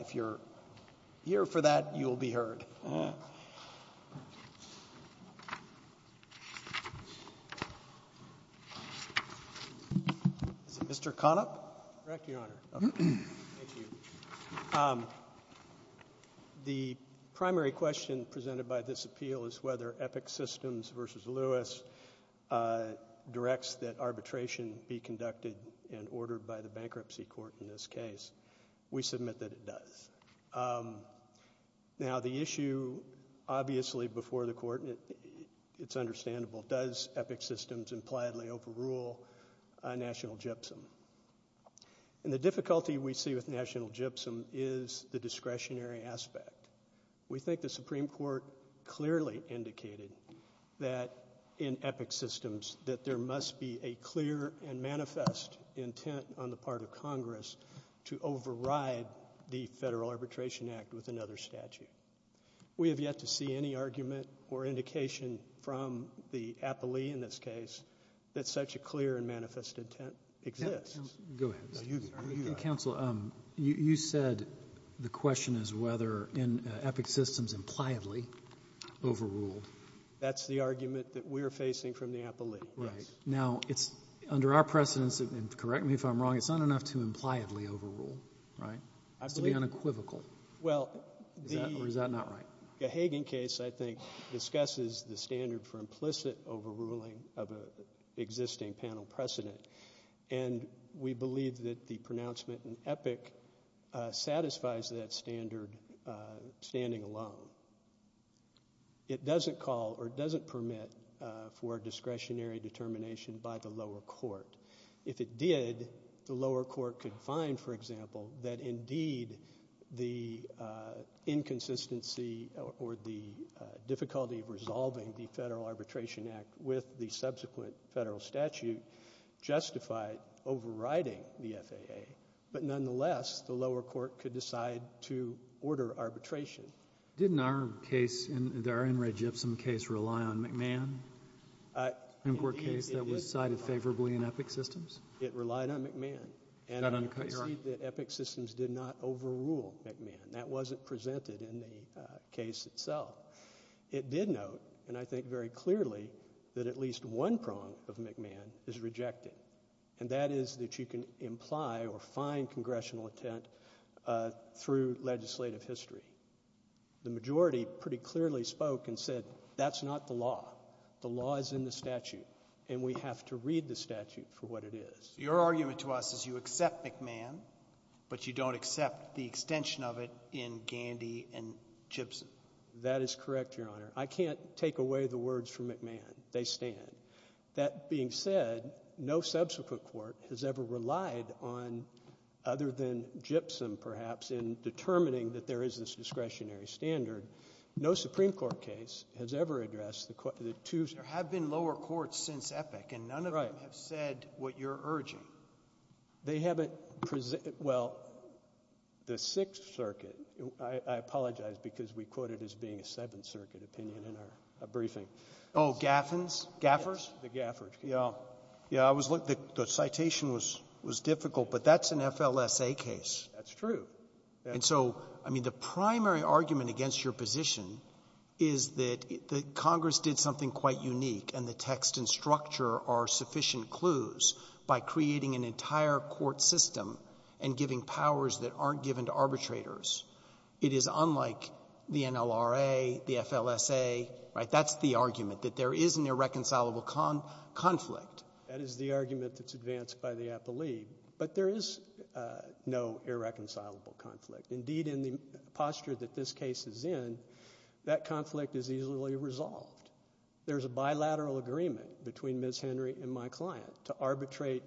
If you're here for that, you'll be heard. Is it Mr. Conop? Correct, Your Honor. Thank you. The primary question presented by this appeal is whether Epic Systems v. Lewis directs that arbitration be conducted and ordered by the bankruptcy court in this case. We submit that it does. Now, the issue obviously before the court, it's understandable, does Epic Systems impliedly overrule National Gypsum? And the difficulty we see with National Gypsum is the discretionary aspect. We think the Supreme Court clearly indicated that in Epic Systems that there must be a clear and manifest intent on the part of Congress to override the Federal Arbitration Act with another statute. We have yet to see any argument or indication from the appellee in this case that such a clear and manifest intent exists. Counsel, you said the question is whether in Epic Systems impliedly overruled. That's the argument that we're facing from the appellee. Right. Now, it's under our precedence, and correct me if I'm wrong, it's not enough to impliedly overrule, right? It has to be unequivocal. Well, the — Or is that not right? The Hagen case, I think, discusses the standard for implicit overruling of an existing panel precedent. And we believe that the pronouncement in Epic satisfies that standard standing alone. It doesn't call or it doesn't permit for discretionary determination by the lower court. If it did, the lower court could find, for example, that indeed the inconsistency or the difficulty of resolving the Federal Arbitration Act with the subsequent Federal statute justified overriding the FAA. But nonetheless, the lower court could decide to order arbitration. Didn't our case, our In re Gibson case, rely on McMahon? The Supreme Court case that was cited favorably in Epic Systems? It relied on McMahon. And I concede that Epic Systems did not overrule McMahon. That wasn't presented in the case itself. It did note, and I think very clearly, that at least one prong of McMahon is rejected, and that is that you can imply or find congressional intent through legislative history. The majority pretty clearly spoke and said that's not the law. The law is in the statute, and we have to read the statute for what it is. Your argument to us is you accept McMahon, but you don't accept the extension of it in Gandy and Gibson. That is correct, Your Honor. I can't take away the words from McMahon. They stand. That being said, no subsequent court has ever relied on, other than Gibson, perhaps, in determining that there is this discretionary standard. No Supreme Court case has ever addressed the two ---- There have been lower courts since Epic, and none of them have said what you're urging. They haven't ---- well, the Sixth Circuit. I apologize because we quote it as being a Seventh Circuit opinion in our briefing. Oh, Gaffins? Gaffers? The Gaffers. Yeah. Yeah. I was looking. The citation was difficult, but that's an FLSA case. That's true. And so, I mean, the primary argument against your position is that Congress did something quite unique, and the text and structure are sufficient clues by creating an entire court system and giving powers that aren't given to arbitrators. It is unlike the argument that there is an irreconcilable conflict. That is the argument that's advanced by the appellee. But there is no irreconcilable conflict. Indeed, in the posture that this case is in, that conflict is easily resolved. There's a bilateral agreement between Ms. Henry and my client to arbitrate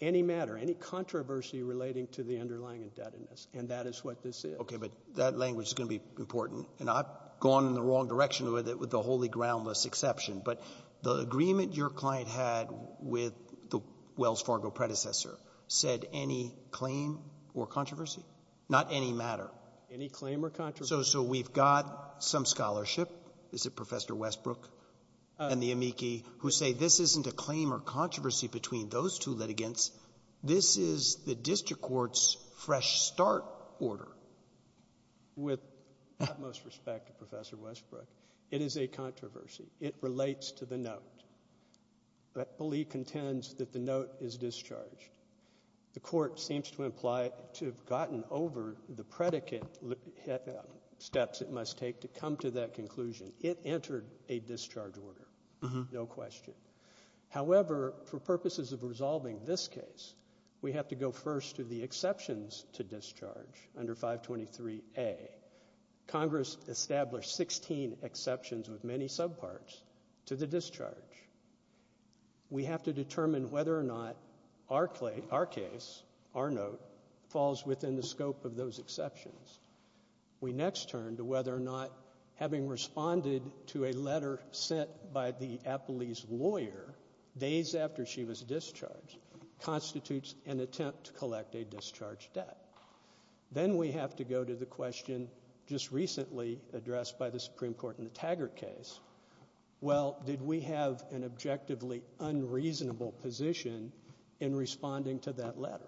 any matter, any controversy relating to the underlying indebtedness, and that is what this is. Okay. But that language is going to be important. And I've gone in the wrong direction with it, with the wholly groundless exception. But the agreement your client had with the Wells Fargo predecessor said any claim or controversy, not any matter. Any claim or controversy. So we've got some scholarship, is it Professor Westbrook and the amici, who say this isn't a claim or controversy between those two litigants. This is the district court's fresh start order. With utmost respect to Professor Westbrook, it is a controversy. It relates to the note. Appellee contends that the note is discharged. The court seems to imply to have gotten over the predicate steps it must take to come to that conclusion. It entered a discharge order, no question. However, for purposes of resolving this case, we have to go first to the exceptions to discharge under 523A. Congress established 16 exceptions with many subparts to the discharge. We have to determine whether or not our case, our note, falls within the scope of those exceptions. We next turn to whether or not having responded to a letter sent by the appellee's lawyer days after she was discharged constitutes an attempt to collect a discharge debt. Then we have to go to the question just recently addressed by the Supreme Court in the Taggart case, well, did we have an objectively unreasonable position in responding to that letter?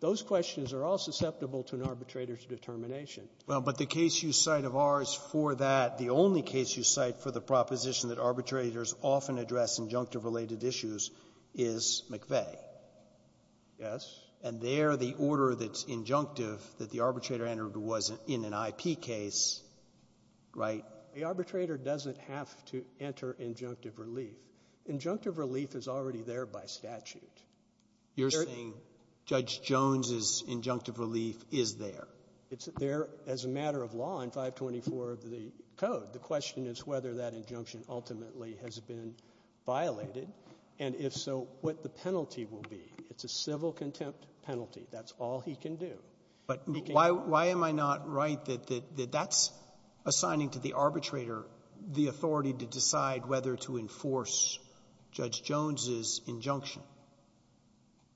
Those questions are all susceptible to an arbitrator's determination. Well, but the case you cite of ours for that, the only case you cite for the proposition that arbitrators often address injunctive-related issues is McVeigh. Yes. And there the order that's injunctive that the arbitrator entered wasn't in an IP case. Right? The arbitrator doesn't have to enter injunctive relief. Injunctive relief is already there by statute. You're saying Judge Jones's injunctive relief is there. It's there as a matter of law in 524 of the code. The question is whether that injunction ultimately has been violated, and if so, what the penalty will be. It's a civil contempt penalty. That's all he can do. But why am I not right that that's assigning to the arbitrator the authority to decide whether to enforce Judge Jones's injunction?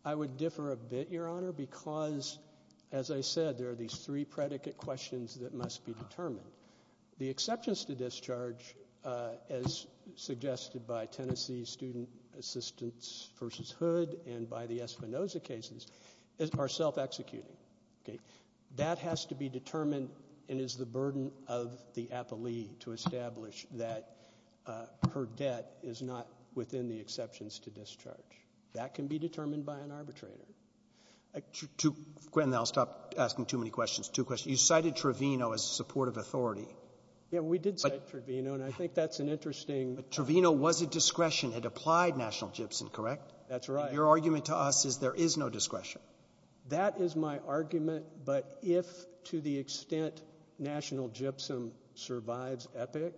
I would differ a bit, Your Honor, because, as I said, there are these three predicate questions that must be determined. The exceptions to discharge, as suggested by Tennessee Student Assistance v. Hood and by the Espinoza cases, are self-executing. Okay? That has to be determined and is the burden of the appellee to establish that her debt is not within the exceptions to discharge. That can be determined by an arbitrator. Gwen, I'll stop asking too many questions. Two questions. You cited Trevino as a supportive authority. Yeah, we did cite Trevino, and I think that's an interesting— But Trevino was a discretion. It applied national gypsum, correct? That's right. Your argument to us is there is no discretion. That is my argument, but if, to the extent national gypsum survives Epic,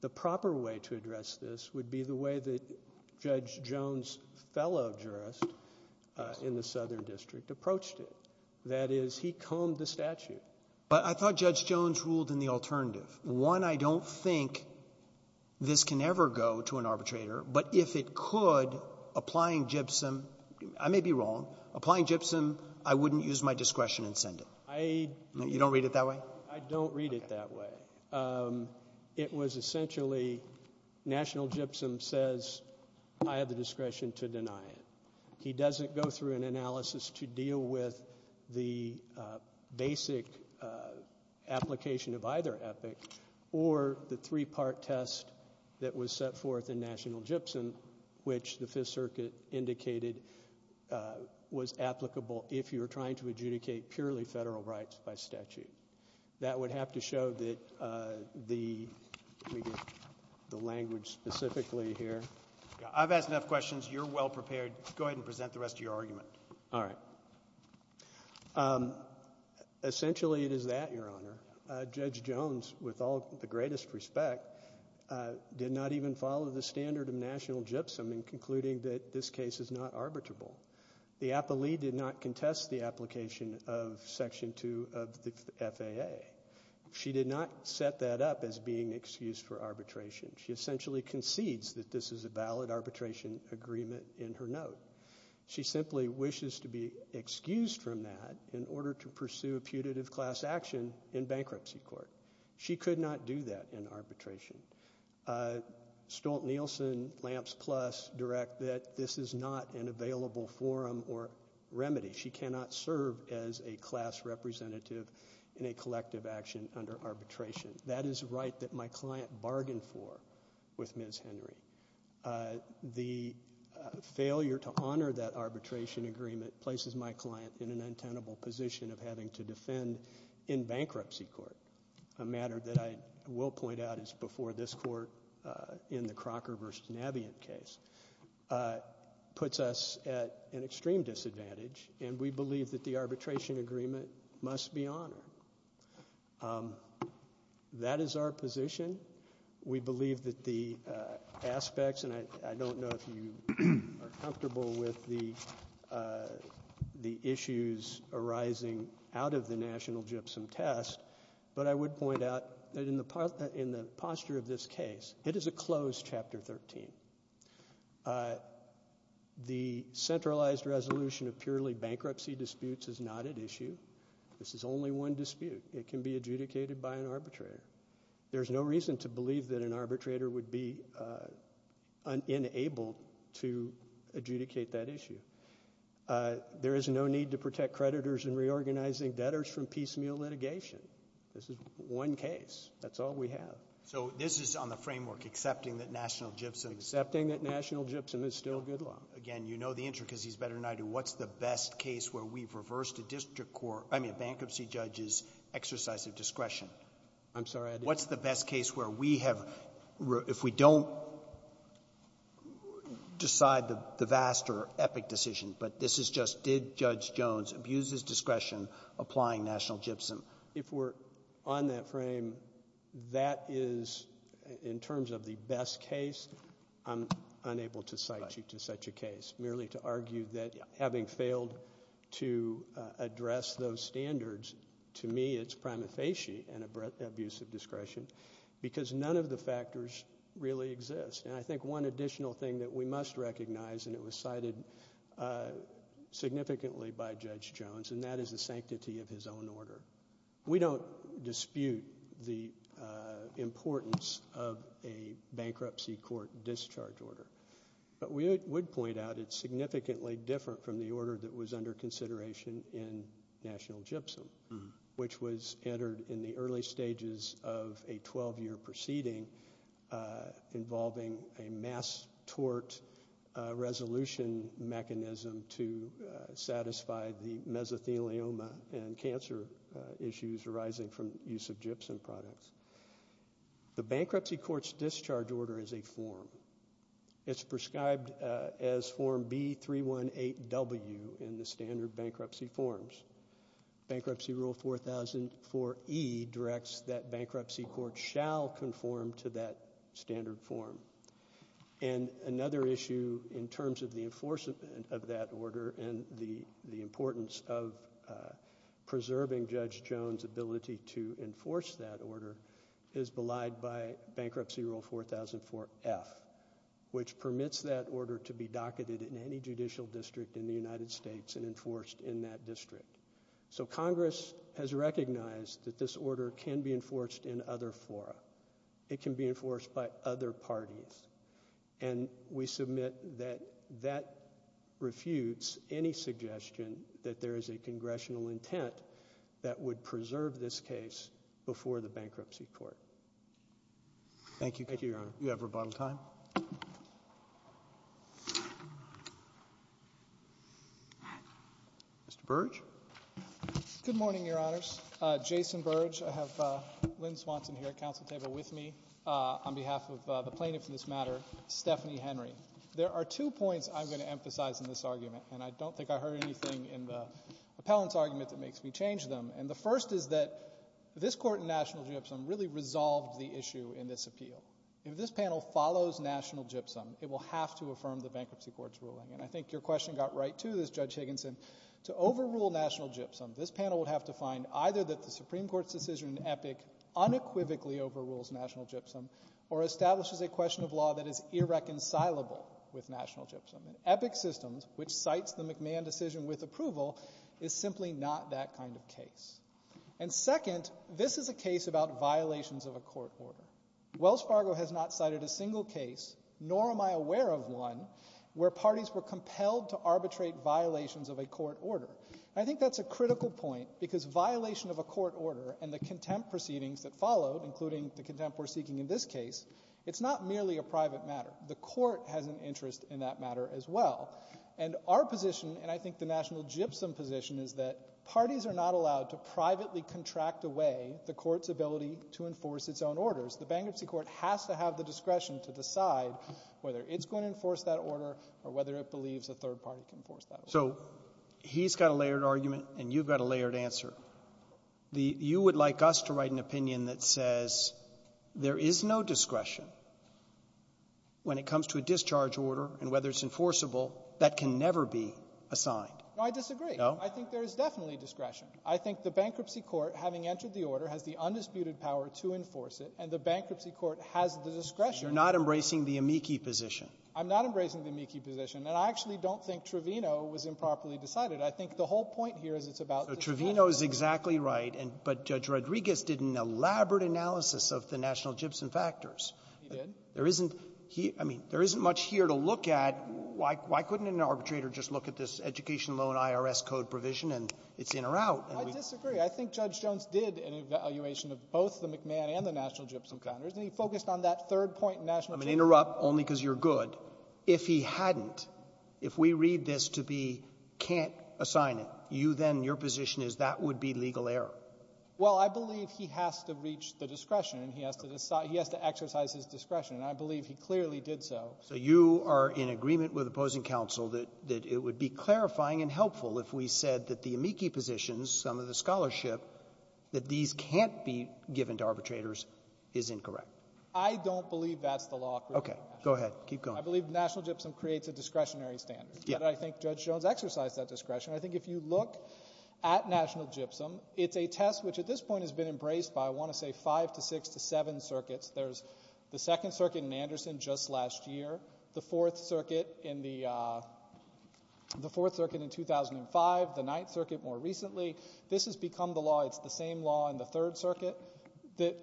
the proper way to address this would be the way that Judge Jones's fellow jurist in the Southern District approached it. That is, he combed the statute. But I thought Judge Jones ruled in the alternative. One, I don't think this can ever go to an arbitrator, but if it could, applying gypsum — I may be wrong. Applying gypsum, I wouldn't use my discretion and send it. I — You don't read it that way? I don't read it that way. It was essentially national gypsum says I have the discretion to deny it. He doesn't go through an analysis to deal with the basic application of either Epic or the three-part test that was set forth in national gypsum, which the Fifth Circuit indicated was applicable if you were trying to adjudicate purely federal rights by statute. That would have to show that the — let me get the language specifically here. I've asked enough questions. You're well prepared. Go ahead and present the rest of your argument. All right. Essentially, it is that, Your Honor. Judge Jones, with all the greatest respect, did not even follow the standard of national gypsum in concluding that this case is not arbitrable. The appellee did not contest the application of Section 2 of the FAA. She did not set that up as being an excuse for arbitration. She essentially concedes that this is a valid arbitration agreement in her note. She simply wishes to be excused from that in order to pursue a putative class action in bankruptcy court. She could not do that in arbitration. Stolt-Nielsen, Lamps Plus, direct that this is not an available forum or remedy. She cannot serve as a class representative in a collective action under arbitration. That is a right that my client bargained for with Ms. Henry. The failure to honor that arbitration agreement places my client in an untenable position of having to defend in bankruptcy court, a matter that I will point out is before this court in the Crocker v. Navient case. It puts us at an extreme disadvantage, and we believe that the arbitration agreement must be honored. That is our position. We believe that the aspects, and I don't know if you are comfortable with the issues arising out of the national gypsum test, but I would point out that in the posture of this case, it is a closed Chapter 13. The centralized resolution of purely bankruptcy disputes is not at issue. This is only one dispute. It can be adjudicated by an arbitrator. There's no reason to believe that an arbitrator would be unable to adjudicate that issue. There is no need to protect creditors in reorganizing debtors from piecemeal litigation. This is one case. That's all we have. So this is on the framework, accepting that national gypsum — Accepting that national gypsum is still good law. Again, you know the intricacies better than I do. What's the best case where we've reversed a district court — I mean, a bankruptcy judge's exercise of discretion? I'm sorry. What's the best case where we have — if we don't decide the vast or epic decision, but this is just did Judge Jones abuse his discretion applying national gypsum? If we're on that frame, that is, in terms of the best case, I'm unable to cite you to such a case. Merely to argue that having failed to address those standards, to me it's prima facie an abuse of discretion because none of the factors really exist. And I think one additional thing that we must recognize, and it was cited significantly by Judge Jones, and that is the sanctity of his own order. We don't dispute the importance of a bankruptcy court discharge order. But we would point out it's significantly different from the order that was under consideration in national gypsum, which was entered in the early stages of a 12-year proceeding involving a mass tort resolution mechanism to satisfy the mesothelioma and cancer issues arising from use of gypsum products. The bankruptcy court's discharge order is a form. It's prescribed as Form B-318W in the standard bankruptcy forms. Bankruptcy Rule 4004E directs that bankruptcy courts shall conform to that standard form. And another issue in terms of the enforcement of that order and the importance of preserving Judge Jones' ability to enforce that order is belied by Bankruptcy Rule 4004F, which permits that order to be docketed in any judicial district in the United States and enforced in that district. So Congress has recognized that this order can be enforced in other fora. It can be enforced by other parties. And we submit that that refutes any suggestion that there is a congressional intent that would preserve this case before the bankruptcy court. Thank you. Thank you, Your Honor. You have rebuttal time. Mr. Burge? Good morning, Your Honors. Jason Burge. I have Lynn Swanson here at council table with me on behalf of the plaintiff in this matter, Stephanie Henry. There are two points I'm going to emphasize in this argument, and I don't think I heard anything in the appellant's argument that makes me change them. And the first is that this Court in National Gypsum really resolved the issue in this appeal. If this panel follows National Gypsum, it will have to affirm the bankruptcy court's ruling. And I think your question got right, too, Judge Higginson. To overrule National Gypsum, this panel would have to find either that the Supreme Court's decision in Epic unequivocally overrules National Gypsum or establishes a question of law that is irreconcilable with National Gypsum. And Epic Systems, which cites the McMahon decision with approval, is simply not that kind of case. And second, this is a case about violations of a court order. Wells Fargo has not cited a single case, nor am I aware of one, where parties were compelled to arbitrate violations of a court order. I think that's a critical point, because violation of a court order and the contempt proceedings that followed, including the contempt we're seeking in this case, it's not merely a private matter. The Court has an interest in that matter as well. And our position, and I think the National Gypsum position, is that parties are not to enforce its own orders. The bankruptcy court has to have the discretion to decide whether it's going to enforce that order or whether it believes a third party can enforce that order. Roberts. So he's got a layered argument and you've got a layered answer. You would like us to write an opinion that says there is no discretion when it comes to a discharge order and whether it's enforceable that can never be assigned. No. I disagree. I think there is definitely discretion. I think the bankruptcy court, having entered the order, has the undisputed power to enforce it, and the bankruptcy court has the discretion. You're not embracing the amici position. I'm not embracing the amici position. And I actually don't think Trevino was improperly decided. I think the whole point here is it's about discretion. So Trevino is exactly right, but Judge Rodriguez did an elaborate analysis of the National Gypsum factors. He did. There isn't here – I mean, there isn't much here to look at. Why couldn't an arbitrator just look at this Education Loan IRS Code provision and it's in or out? I disagree. I think Judge Jones did an evaluation of both the McMahon and the National Gypsum counters, and he focused on that third point in National Gypsum. I'm going to interrupt only because you're good. If he hadn't, if we read this to be can't assign it, you then, your position is that would be legal error. Well, I believe he has to reach the discretion and he has to exercise his discretion, and I believe he clearly did so. So you are in agreement with opposing counsel that it would be clarifying and helpful if we said that the amici positions, some of the scholarship, that these can't be given to arbitrators is incorrect. I don't believe that's the law. Okay. Go ahead. Keep going. I believe National Gypsum creates a discretionary standard. Yes. And I think Judge Jones exercised that discretion. I think if you look at National Gypsum, it's a test which at this point has been embraced by, I want to say, five to six to seven circuits. There's the Second Circuit in Anderson just last year, the Fourth Circuit in the Fourth Circuit in 2005, the Ninth Circuit more recently. This has become the law. It's the same law in the Third Circuit that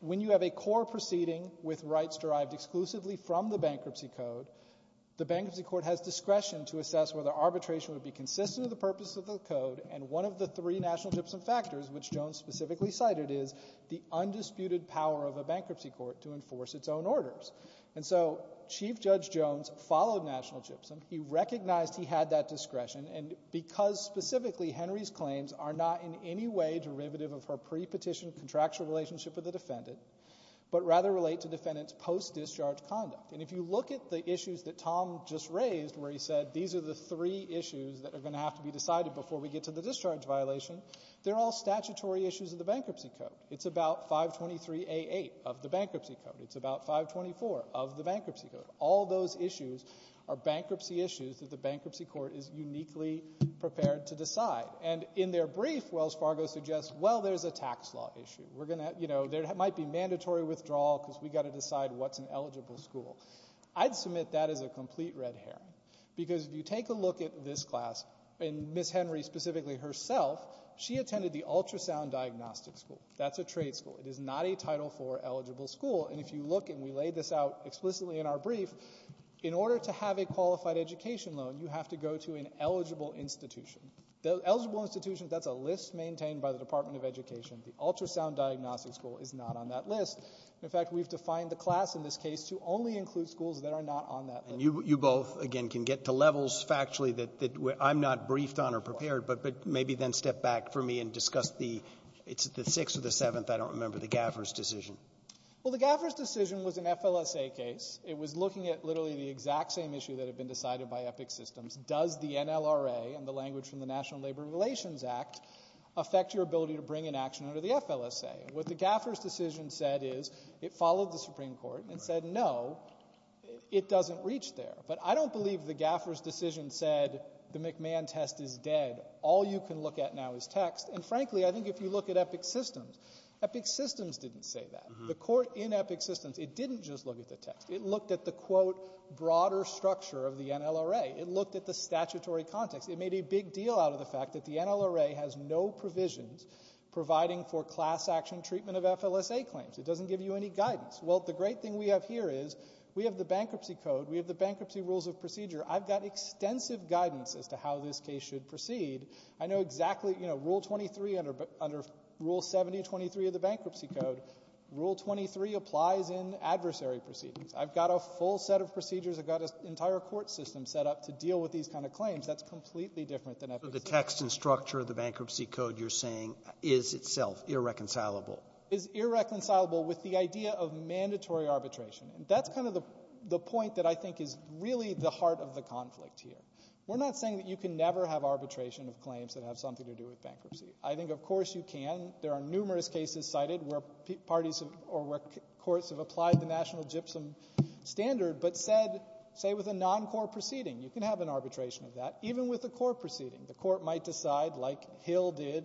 when you have a core proceeding with rights derived exclusively from the bankruptcy code, the bankruptcy court has discretion to assess whether arbitration would be consistent with the purpose of the code, and one of the three National Gypsum factors, which Jones specifically cited, is the undisputed power of a bankruptcy court to enforce its own orders. And so Chief Judge Jones followed National Gypsum. He recognized he had that discretion, and because specifically Henry's claims are not in any way derivative of her pre-petition contractual relationship with the defendant, but rather relate to defendant's post-discharge conduct. And if you look at the issues that Tom just raised where he said these are the three issues that are going to have to be decided before we get to the discharge violation, they're all statutory issues of the bankruptcy code. It's about 523A8 of the bankruptcy code. It's about 524 of the bankruptcy code. All those issues are bankruptcy issues that the bankruptcy court is uniquely prepared to decide. And in their brief, Wells Fargo suggests, well, there's a tax law issue. We're going to, you know, there might be mandatory withdrawal because we've got to decide what's an eligible school. I'd submit that is a complete red herring because if you take a look at this class, and Ms. Henry specifically herself, she attended the ultrasound diagnostic school. That's a trade school. It is not a Title IV eligible school. And if you look, and we laid this out explicitly in our brief, in order to have a qualified education loan, you have to go to an eligible institution. The eligible institution, that's a list maintained by the Department of Education. The ultrasound diagnostic school is not on that list. In fact, we've defined the class in this case to only include schools that are not on that list. And you both, again, can get to levels factually that I'm not briefed on or prepared, but maybe then step back for me and discuss the, it's the sixth or the eighth case under the Gaffer's decision. Well, the Gaffer's decision was an FLSA case. It was looking at literally the exact same issue that had been decided by Epic Systems. Does the NLRA and the language from the National Labor Relations Act affect your ability to bring an action under the FLSA? What the Gaffer's decision said is it followed the Supreme Court and said, no, it doesn't reach there. But I don't believe the Gaffer's decision said the McMahon test is dead. All you can look at now is text. And frankly, I think if you look at Epic Systems, Epic Systems didn't say that. The court in Epic Systems, it didn't just look at the text. It looked at the, quote, broader structure of the NLRA. It looked at the statutory context. It made a big deal out of the fact that the NLRA has no provisions providing for class action treatment of FLSA claims. It doesn't give you any guidance. Well, the great thing we have here is we have the bankruptcy code. We have the bankruptcy rules of procedure. I've got extensive guidance as to how this case should proceed. I know exactly, you know, Rule 23 under Rule 7023 of the bankruptcy code, Rule 23 applies in adversary proceedings. I've got a full set of procedures. I've got an entire court system set up to deal with these kind of claims. That's completely different than Epic Systems. So the text and structure of the bankruptcy code you're saying is itself irreconcilable? It's irreconcilable with the idea of mandatory arbitration. That's kind of the point that I think is really the heart of the conflict here. We're not saying that you can never have arbitration of claims that have something to do with bankruptcy. I think, of course, you can. There are numerous cases cited where parties or where courts have applied the national gypsum standard, but said, say, with a non-court proceeding, you can have an arbitration of that, even with a court proceeding. The court might decide, like Hill did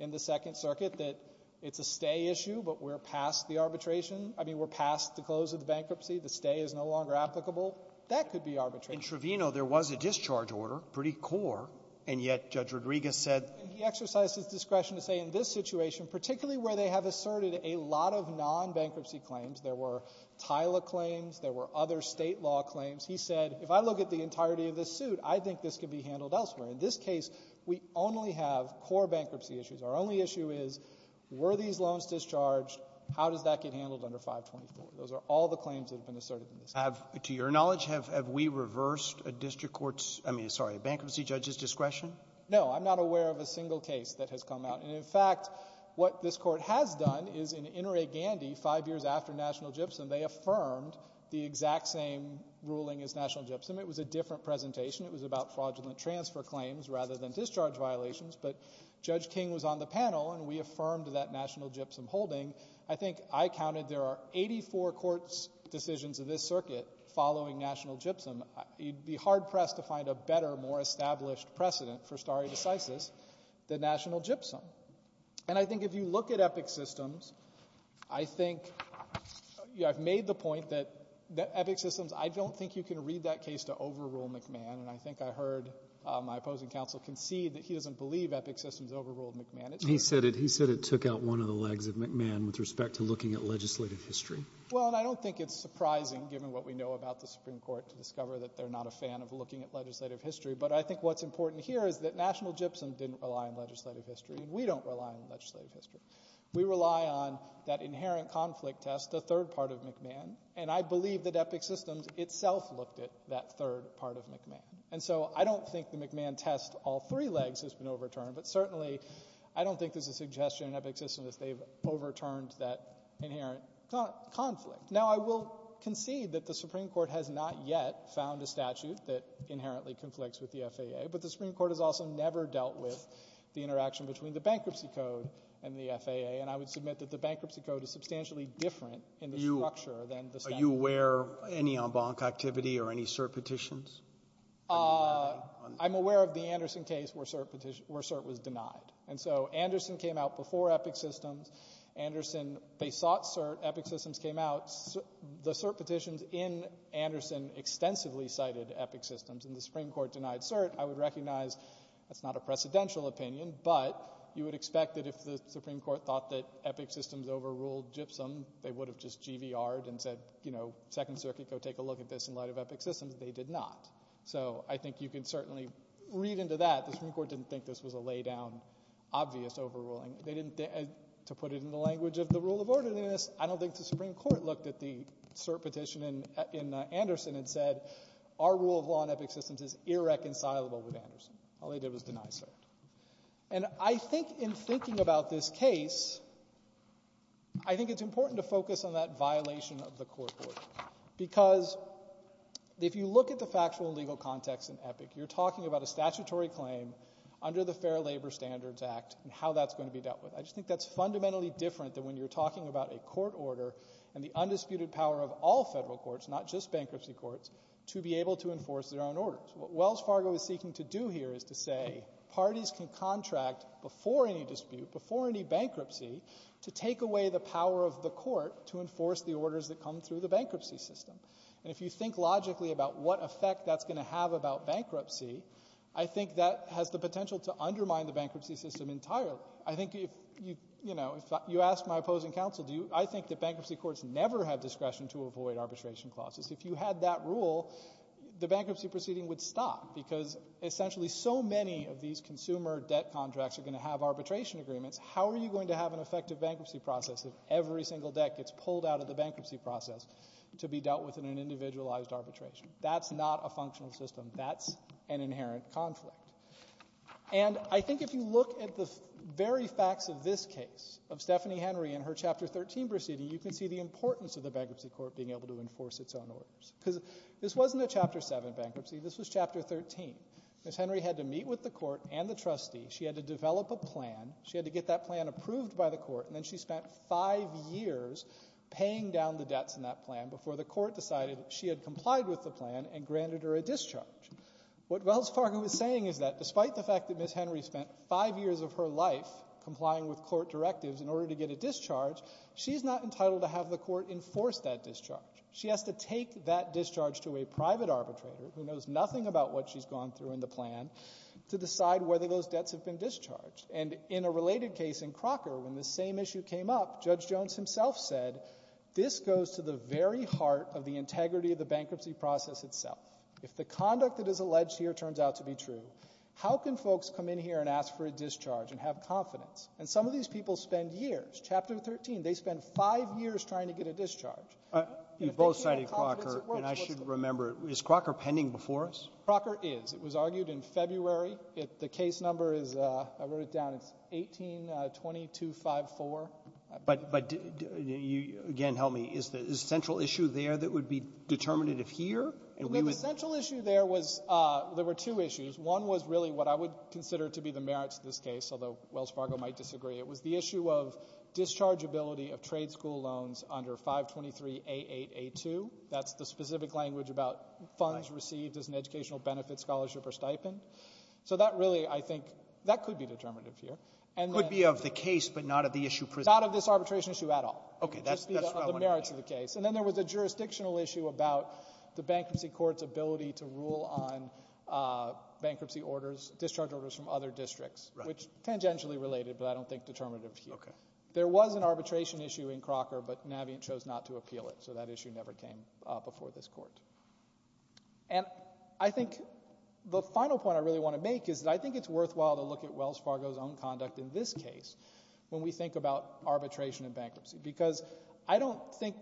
in the Second Circuit, that it's a stay issue, but we're past the arbitration. I mean, we're past the close of the bankruptcy. The stay is no longer applicable. That could be arbitration. In Trevino, there was a discharge order, pretty core, and yet Judge Rodriguez said… And he exercised his discretion to say in this situation, particularly where they have asserted a lot of non-bankruptcy claims, there were TILA claims, there were other State law claims, he said, if I look at the entirety of this suit, I think this could be handled elsewhere. In this case, we only have core bankruptcy issues. Our only issue is, were these loans discharged, how does that get handled under 524? Those are all the claims that have been asserted in this case. Have… to your knowledge, have we reversed a district court's… I mean, sorry, a bankruptcy judge's discretion? No. I'm not aware of a single case that has come out. And, in fact, what this Court has done is in Inouye-Gandhi, five years after National Gypsum, they affirmed the exact same ruling as National Gypsum. It was a different presentation. It was about fraudulent transfer claims rather than discharge violations. But Judge King was on the panel, and we affirmed that National Gypsum holding. I think I counted there are 84 courts' decisions of this circuit following National Gypsum. You'd be hard-pressed to find a better, more established precedent for stare decisis than National Gypsum. And I think if you look at Epic Systems, I think… I've made the point that Epic Systems, I don't think you can read that case to overrule McMahon. And I think I heard my opposing counsel concede that he doesn't believe Epic Systems overruled McMahon. He said it took out one of the legs of McMahon with respect to looking at legislative history. Well, and I don't think it's surprising, given what we know about the Supreme Court, to discover that they're not a fan of looking at legislative history. But I think what's important here is that National Gypsum didn't rely on legislative history, and we don't rely on legislative history. We rely on that inherent conflict test, the third part of McMahon. And I believe that Epic Systems itself looked at that third part of McMahon. And so I don't think the McMahon test, all three legs, has been overturned. But certainly, I don't think there's a suggestion in Epic Systems that they've overturned that inherent conflict. Now, I will concede that the Supreme Court has not yet found a statute that inherently conflicts with the FAA, but the Supreme Court has also never dealt with the interaction between the Bankruptcy Code and the FAA. And I would submit that the Bankruptcy Code is substantially different in the structure than the statute. Are you aware of any en banc activity or any cert petitions? I'm aware of the Anderson case where cert was denied. And so Anderson came out before Epic Systems. Anderson, they sought cert. Epic Systems came out. The cert petitions in Anderson extensively cited Epic Systems. And the Supreme Court denied cert. I would recognize that's not a precedential opinion, but you would expect that if the Supreme Court thought that Epic Systems overruled Gypsum, they would have just GVR'd and said, you know, Second Circuit, go take a look at this in light of Epic Systems. They did not. So I think you can certainly read into that. The Supreme Court didn't think this was a laydown, obvious overruling. They didn't, to put it in the language of the rule of orderliness, I don't think the Supreme Court looked at the cert petition in Anderson and said, our rule of law in Epic Systems is irreconcilable with Anderson. All they did was deny cert. And I think in thinking about this case, I think it's important to focus on that If you look at the factual legal context in Epic, you're talking about a statutory claim under the Fair Labor Standards Act and how that's going to be dealt with. I just think that's fundamentally different than when you're talking about a court order and the undisputed power of all federal courts, not just bankruptcy courts, to be able to enforce their own orders. What Wells Fargo is seeking to do here is to say parties can contract before any dispute, before any bankruptcy, to take away the power of the court to enforce the orders that come through the bankruptcy system. And if you think logically about what effect that's going to have about bankruptcy, I think that has the potential to undermine the bankruptcy system entirely. I think if you ask my opposing counsel, I think that bankruptcy courts never have discretion to avoid arbitration clauses. If you had that rule, the bankruptcy proceeding would stop because essentially so many of these consumer debt contracts are going to have arbitration agreements, how are you going to have an effective bankruptcy process if every single debt gets pulled out of the bankruptcy process to be dealt with in an individualized arbitration? That's not a functional system. That's an inherent conflict. And I think if you look at the very facts of this case, of Stephanie Henry and her Chapter 13 proceeding, you can see the importance of the bankruptcy court being able to enforce its own orders. Because this wasn't a Chapter 7 bankruptcy. This was Chapter 13. Ms. Henry had to meet with the court and the trustee. She had to develop a plan. She had to get that plan approved by the court. And then she spent five years paying down the debts in that plan before the court decided she had complied with the plan and granted her a discharge. What Wells Fargo is saying is that despite the fact that Ms. Henry spent five years of her life complying with court directives in order to get a discharge, she's not entitled to have the court enforce that discharge. She has to take that discharge to a private arbitrator who knows nothing about what she's gone through in the plan to decide whether those debts have been discharged. And in a related case in Crocker, when the same issue came up, Judge Jones himself said, this goes to the very heart of the integrity of the bankruptcy process itself. If the conduct that is alleged here turns out to be true, how can folks come in here and ask for a discharge and have confidence? And some of these people spend years. Chapter 13, they spend five years trying to get a discharge. And if they can't have confidence, it works. Roberts. And I should remember, is Crocker pending before us? Crocker is. It was argued in February. The case number is, I wrote it down, it's 18-2254. But you, again, help me. Is the central issue there that would be determinative here? The central issue there was, there were two issues. One was really what I would consider to be the merits of this case, although Wells Fargo might disagree. It was the issue of dischargeability of trade school loans under 523-8882. That's the specific language about funds received as an educational benefit, scholarship or stipend. So that really, I think, that could be determinative here. It could be of the case, but not of the issue presented. Not of this arbitration issue at all. Okay, that's what I wanted to hear. Just the merits of the case. And then there was a jurisdictional issue about the bankruptcy court's ability to rule on bankruptcy orders, discharge orders from other districts, which is tangentially related, but I don't think determinative here. There was an arbitration issue in Crocker, but Navient chose not to appeal it, so that issue never came before this court. And I think the final point I really want to make is that I think it's worthwhile to look at Wells Fargo's own conduct in this case when we think about arbitration and bankruptcy. Because I don't think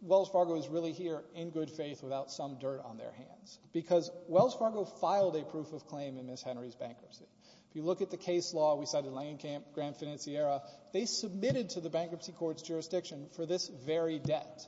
Wells Fargo is really here in good faith without some dirt on their hands. Because Wells Fargo filed a proof of claim in Ms. Henry's bankruptcy. If you look at the case law, we cited Langenkamp, Grand Financiera, they submitted to the bankruptcy court's jurisdiction for this very debt.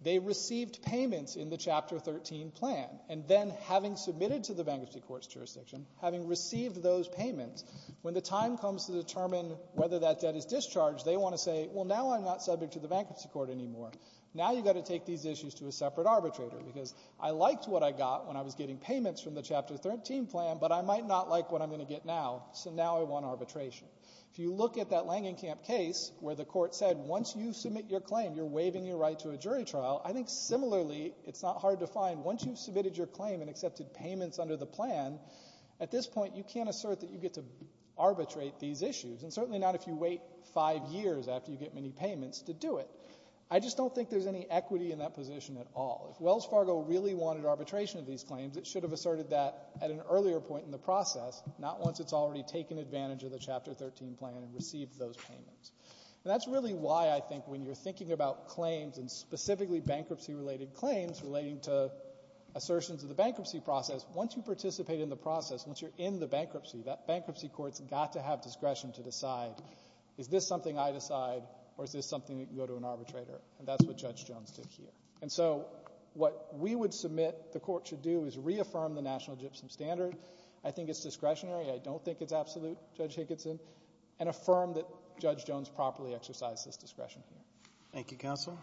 They received payments in the Chapter 13 plan. And then having submitted to the bankruptcy court's jurisdiction, having received those payments, when the time comes to determine whether that debt is discharged, they want to say, well, now I'm not subject to the bankruptcy court anymore. Now you've got to take these issues to a separate arbitrator. Because I liked what I got when I was getting payments from the Chapter 13 plan, but I might not like what I'm going to get now, so now I want arbitration. If you look at that Langenkamp case where the court said, once you submit your right to a jury trial, I think similarly it's not hard to find once you've submitted your claim and accepted payments under the plan, at this point you can't assert that you get to arbitrate these issues. And certainly not if you wait five years after you get many payments to do it. I just don't think there's any equity in that position at all. If Wells Fargo really wanted arbitration of these claims, it should have asserted that at an earlier point in the process, not once it's already taken advantage of the Chapter 13 plan and received those payments. And that's really why I think when you're thinking about claims and specifically bankruptcy-related claims relating to assertions of the bankruptcy process, once you participate in the process, once you're in the bankruptcy, that bankruptcy court's got to have discretion to decide, is this something I decide or is this something that can go to an arbitrator? And that's what Judge Jones did here. And so what we would submit the court should do is reaffirm the National Gypsum Standard. I think it's discretionary. I don't think it's absolute, Judge Higginson. And affirm that Judge Jones properly exercised this discretion here. Thank you, Counsel.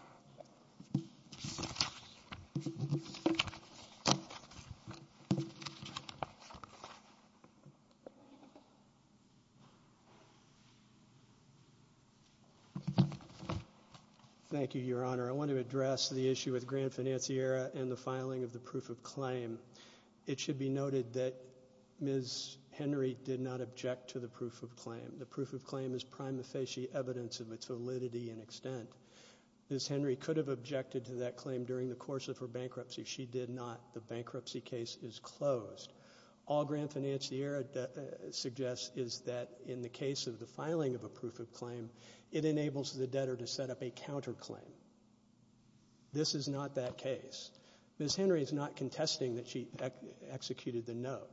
Thank you, Your Honor. I want to address the issue with Grand Financiera and the filing of the proof of claim. It should be noted that Ms. Henry did not object to the proof of claim. The proof of claim is prima facie evidence of its validity and extent. Ms. Henry could have objected to that claim during the course of her bankruptcy. She did not. The bankruptcy case is closed. All Grand Financiera suggests is that in the case of the filing of a proof of claim, it enables the debtor to set up a counterclaim. This is not that case. Ms. Henry is not contesting that she executed the note.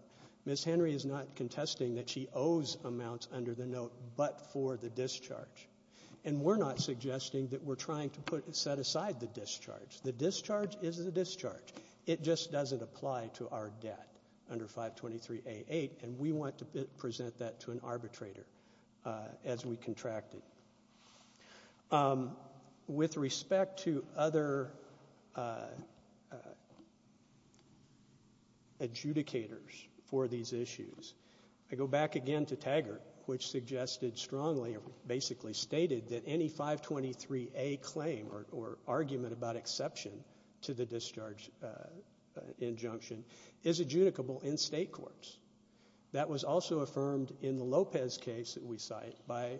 Ms. Henry is not contesting that she owes amounts under the note but for the discharge. And we're not suggesting that we're trying to set aside the discharge. The discharge is the discharge. It just doesn't apply to our debt under 523A8. And we want to present that to an arbitrator as we contract it. With respect to other adjudicators for these issues, I go back again to Taggart, which suggested strongly or basically stated that any 523A claim or argument about exception to the discharge injunction is adjudicable in state courts. That was also affirmed in the Lopez case that we cite by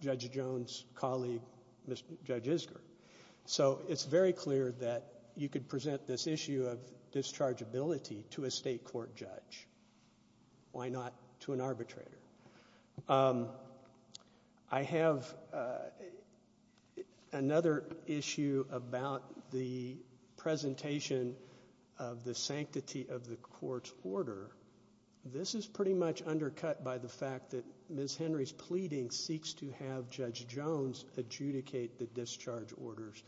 Judge Jones' colleague, Judge Isger. So it's very clear that you could present this issue of dischargeability to a state court judge. Why not to an arbitrator? I have another issue about the presentation of the sanctity of the court's order. This is pretty much undercut by the fact that Ms. Henry's pleading seeks to have Judge Jones adjudicate the discharge orders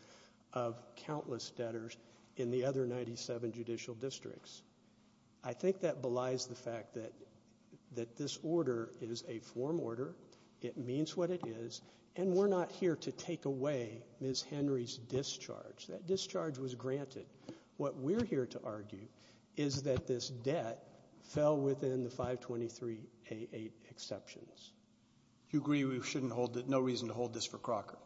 of countless debtors in the other 97 judicial districts. I think that belies the fact that this order is a form order. It means what it is. And we're not here to take away Ms. Henry's discharge. That discharge was granted. What we're here to argue is that this debt fell within the 523A8 exceptions. Do you agree we shouldn't hold it? No reason to hold this for Crocker?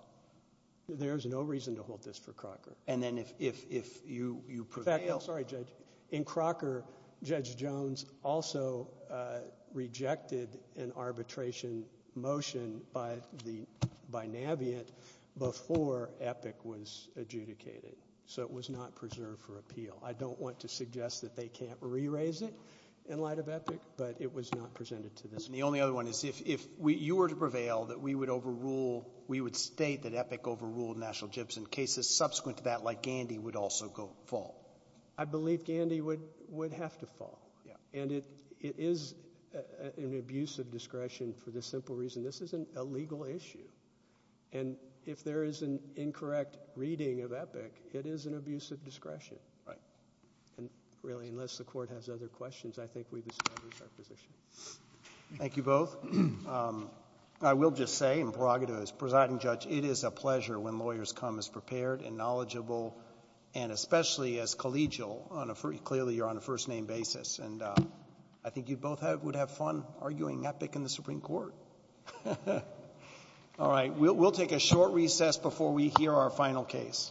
There is no reason to hold this for Crocker. And then if you prevail? In fact, I'm sorry, Judge. In Crocker, Judge Jones also rejected an arbitration motion by the — by Navient before EPIC was adjudicated. So it was not preserved for appeal. I don't want to suggest that they can't re-raise it in light of EPIC, but it was not presented to this Court. And the only other one is if you were to prevail, that we would overrule — we would state that EPIC overruled cases subsequent to that, like Gandy, would also go — fall. I believe Gandy would have to fall. And it is an abuse of discretion for the simple reason this isn't a legal issue. And if there is an incorrect reading of EPIC, it is an abuse of discretion. Right. And really, unless the Court has other questions, I think we've established our position. Thank you both. I will just say in prerogative as presiding judge, it is a pleasure when lawyers come as prepared and knowledgeable, and especially as collegial on a — clearly, you're on a first-name basis. And I think you both would have fun arguing EPIC in the Supreme Court. All right. We'll take a short recess before we hear our final case.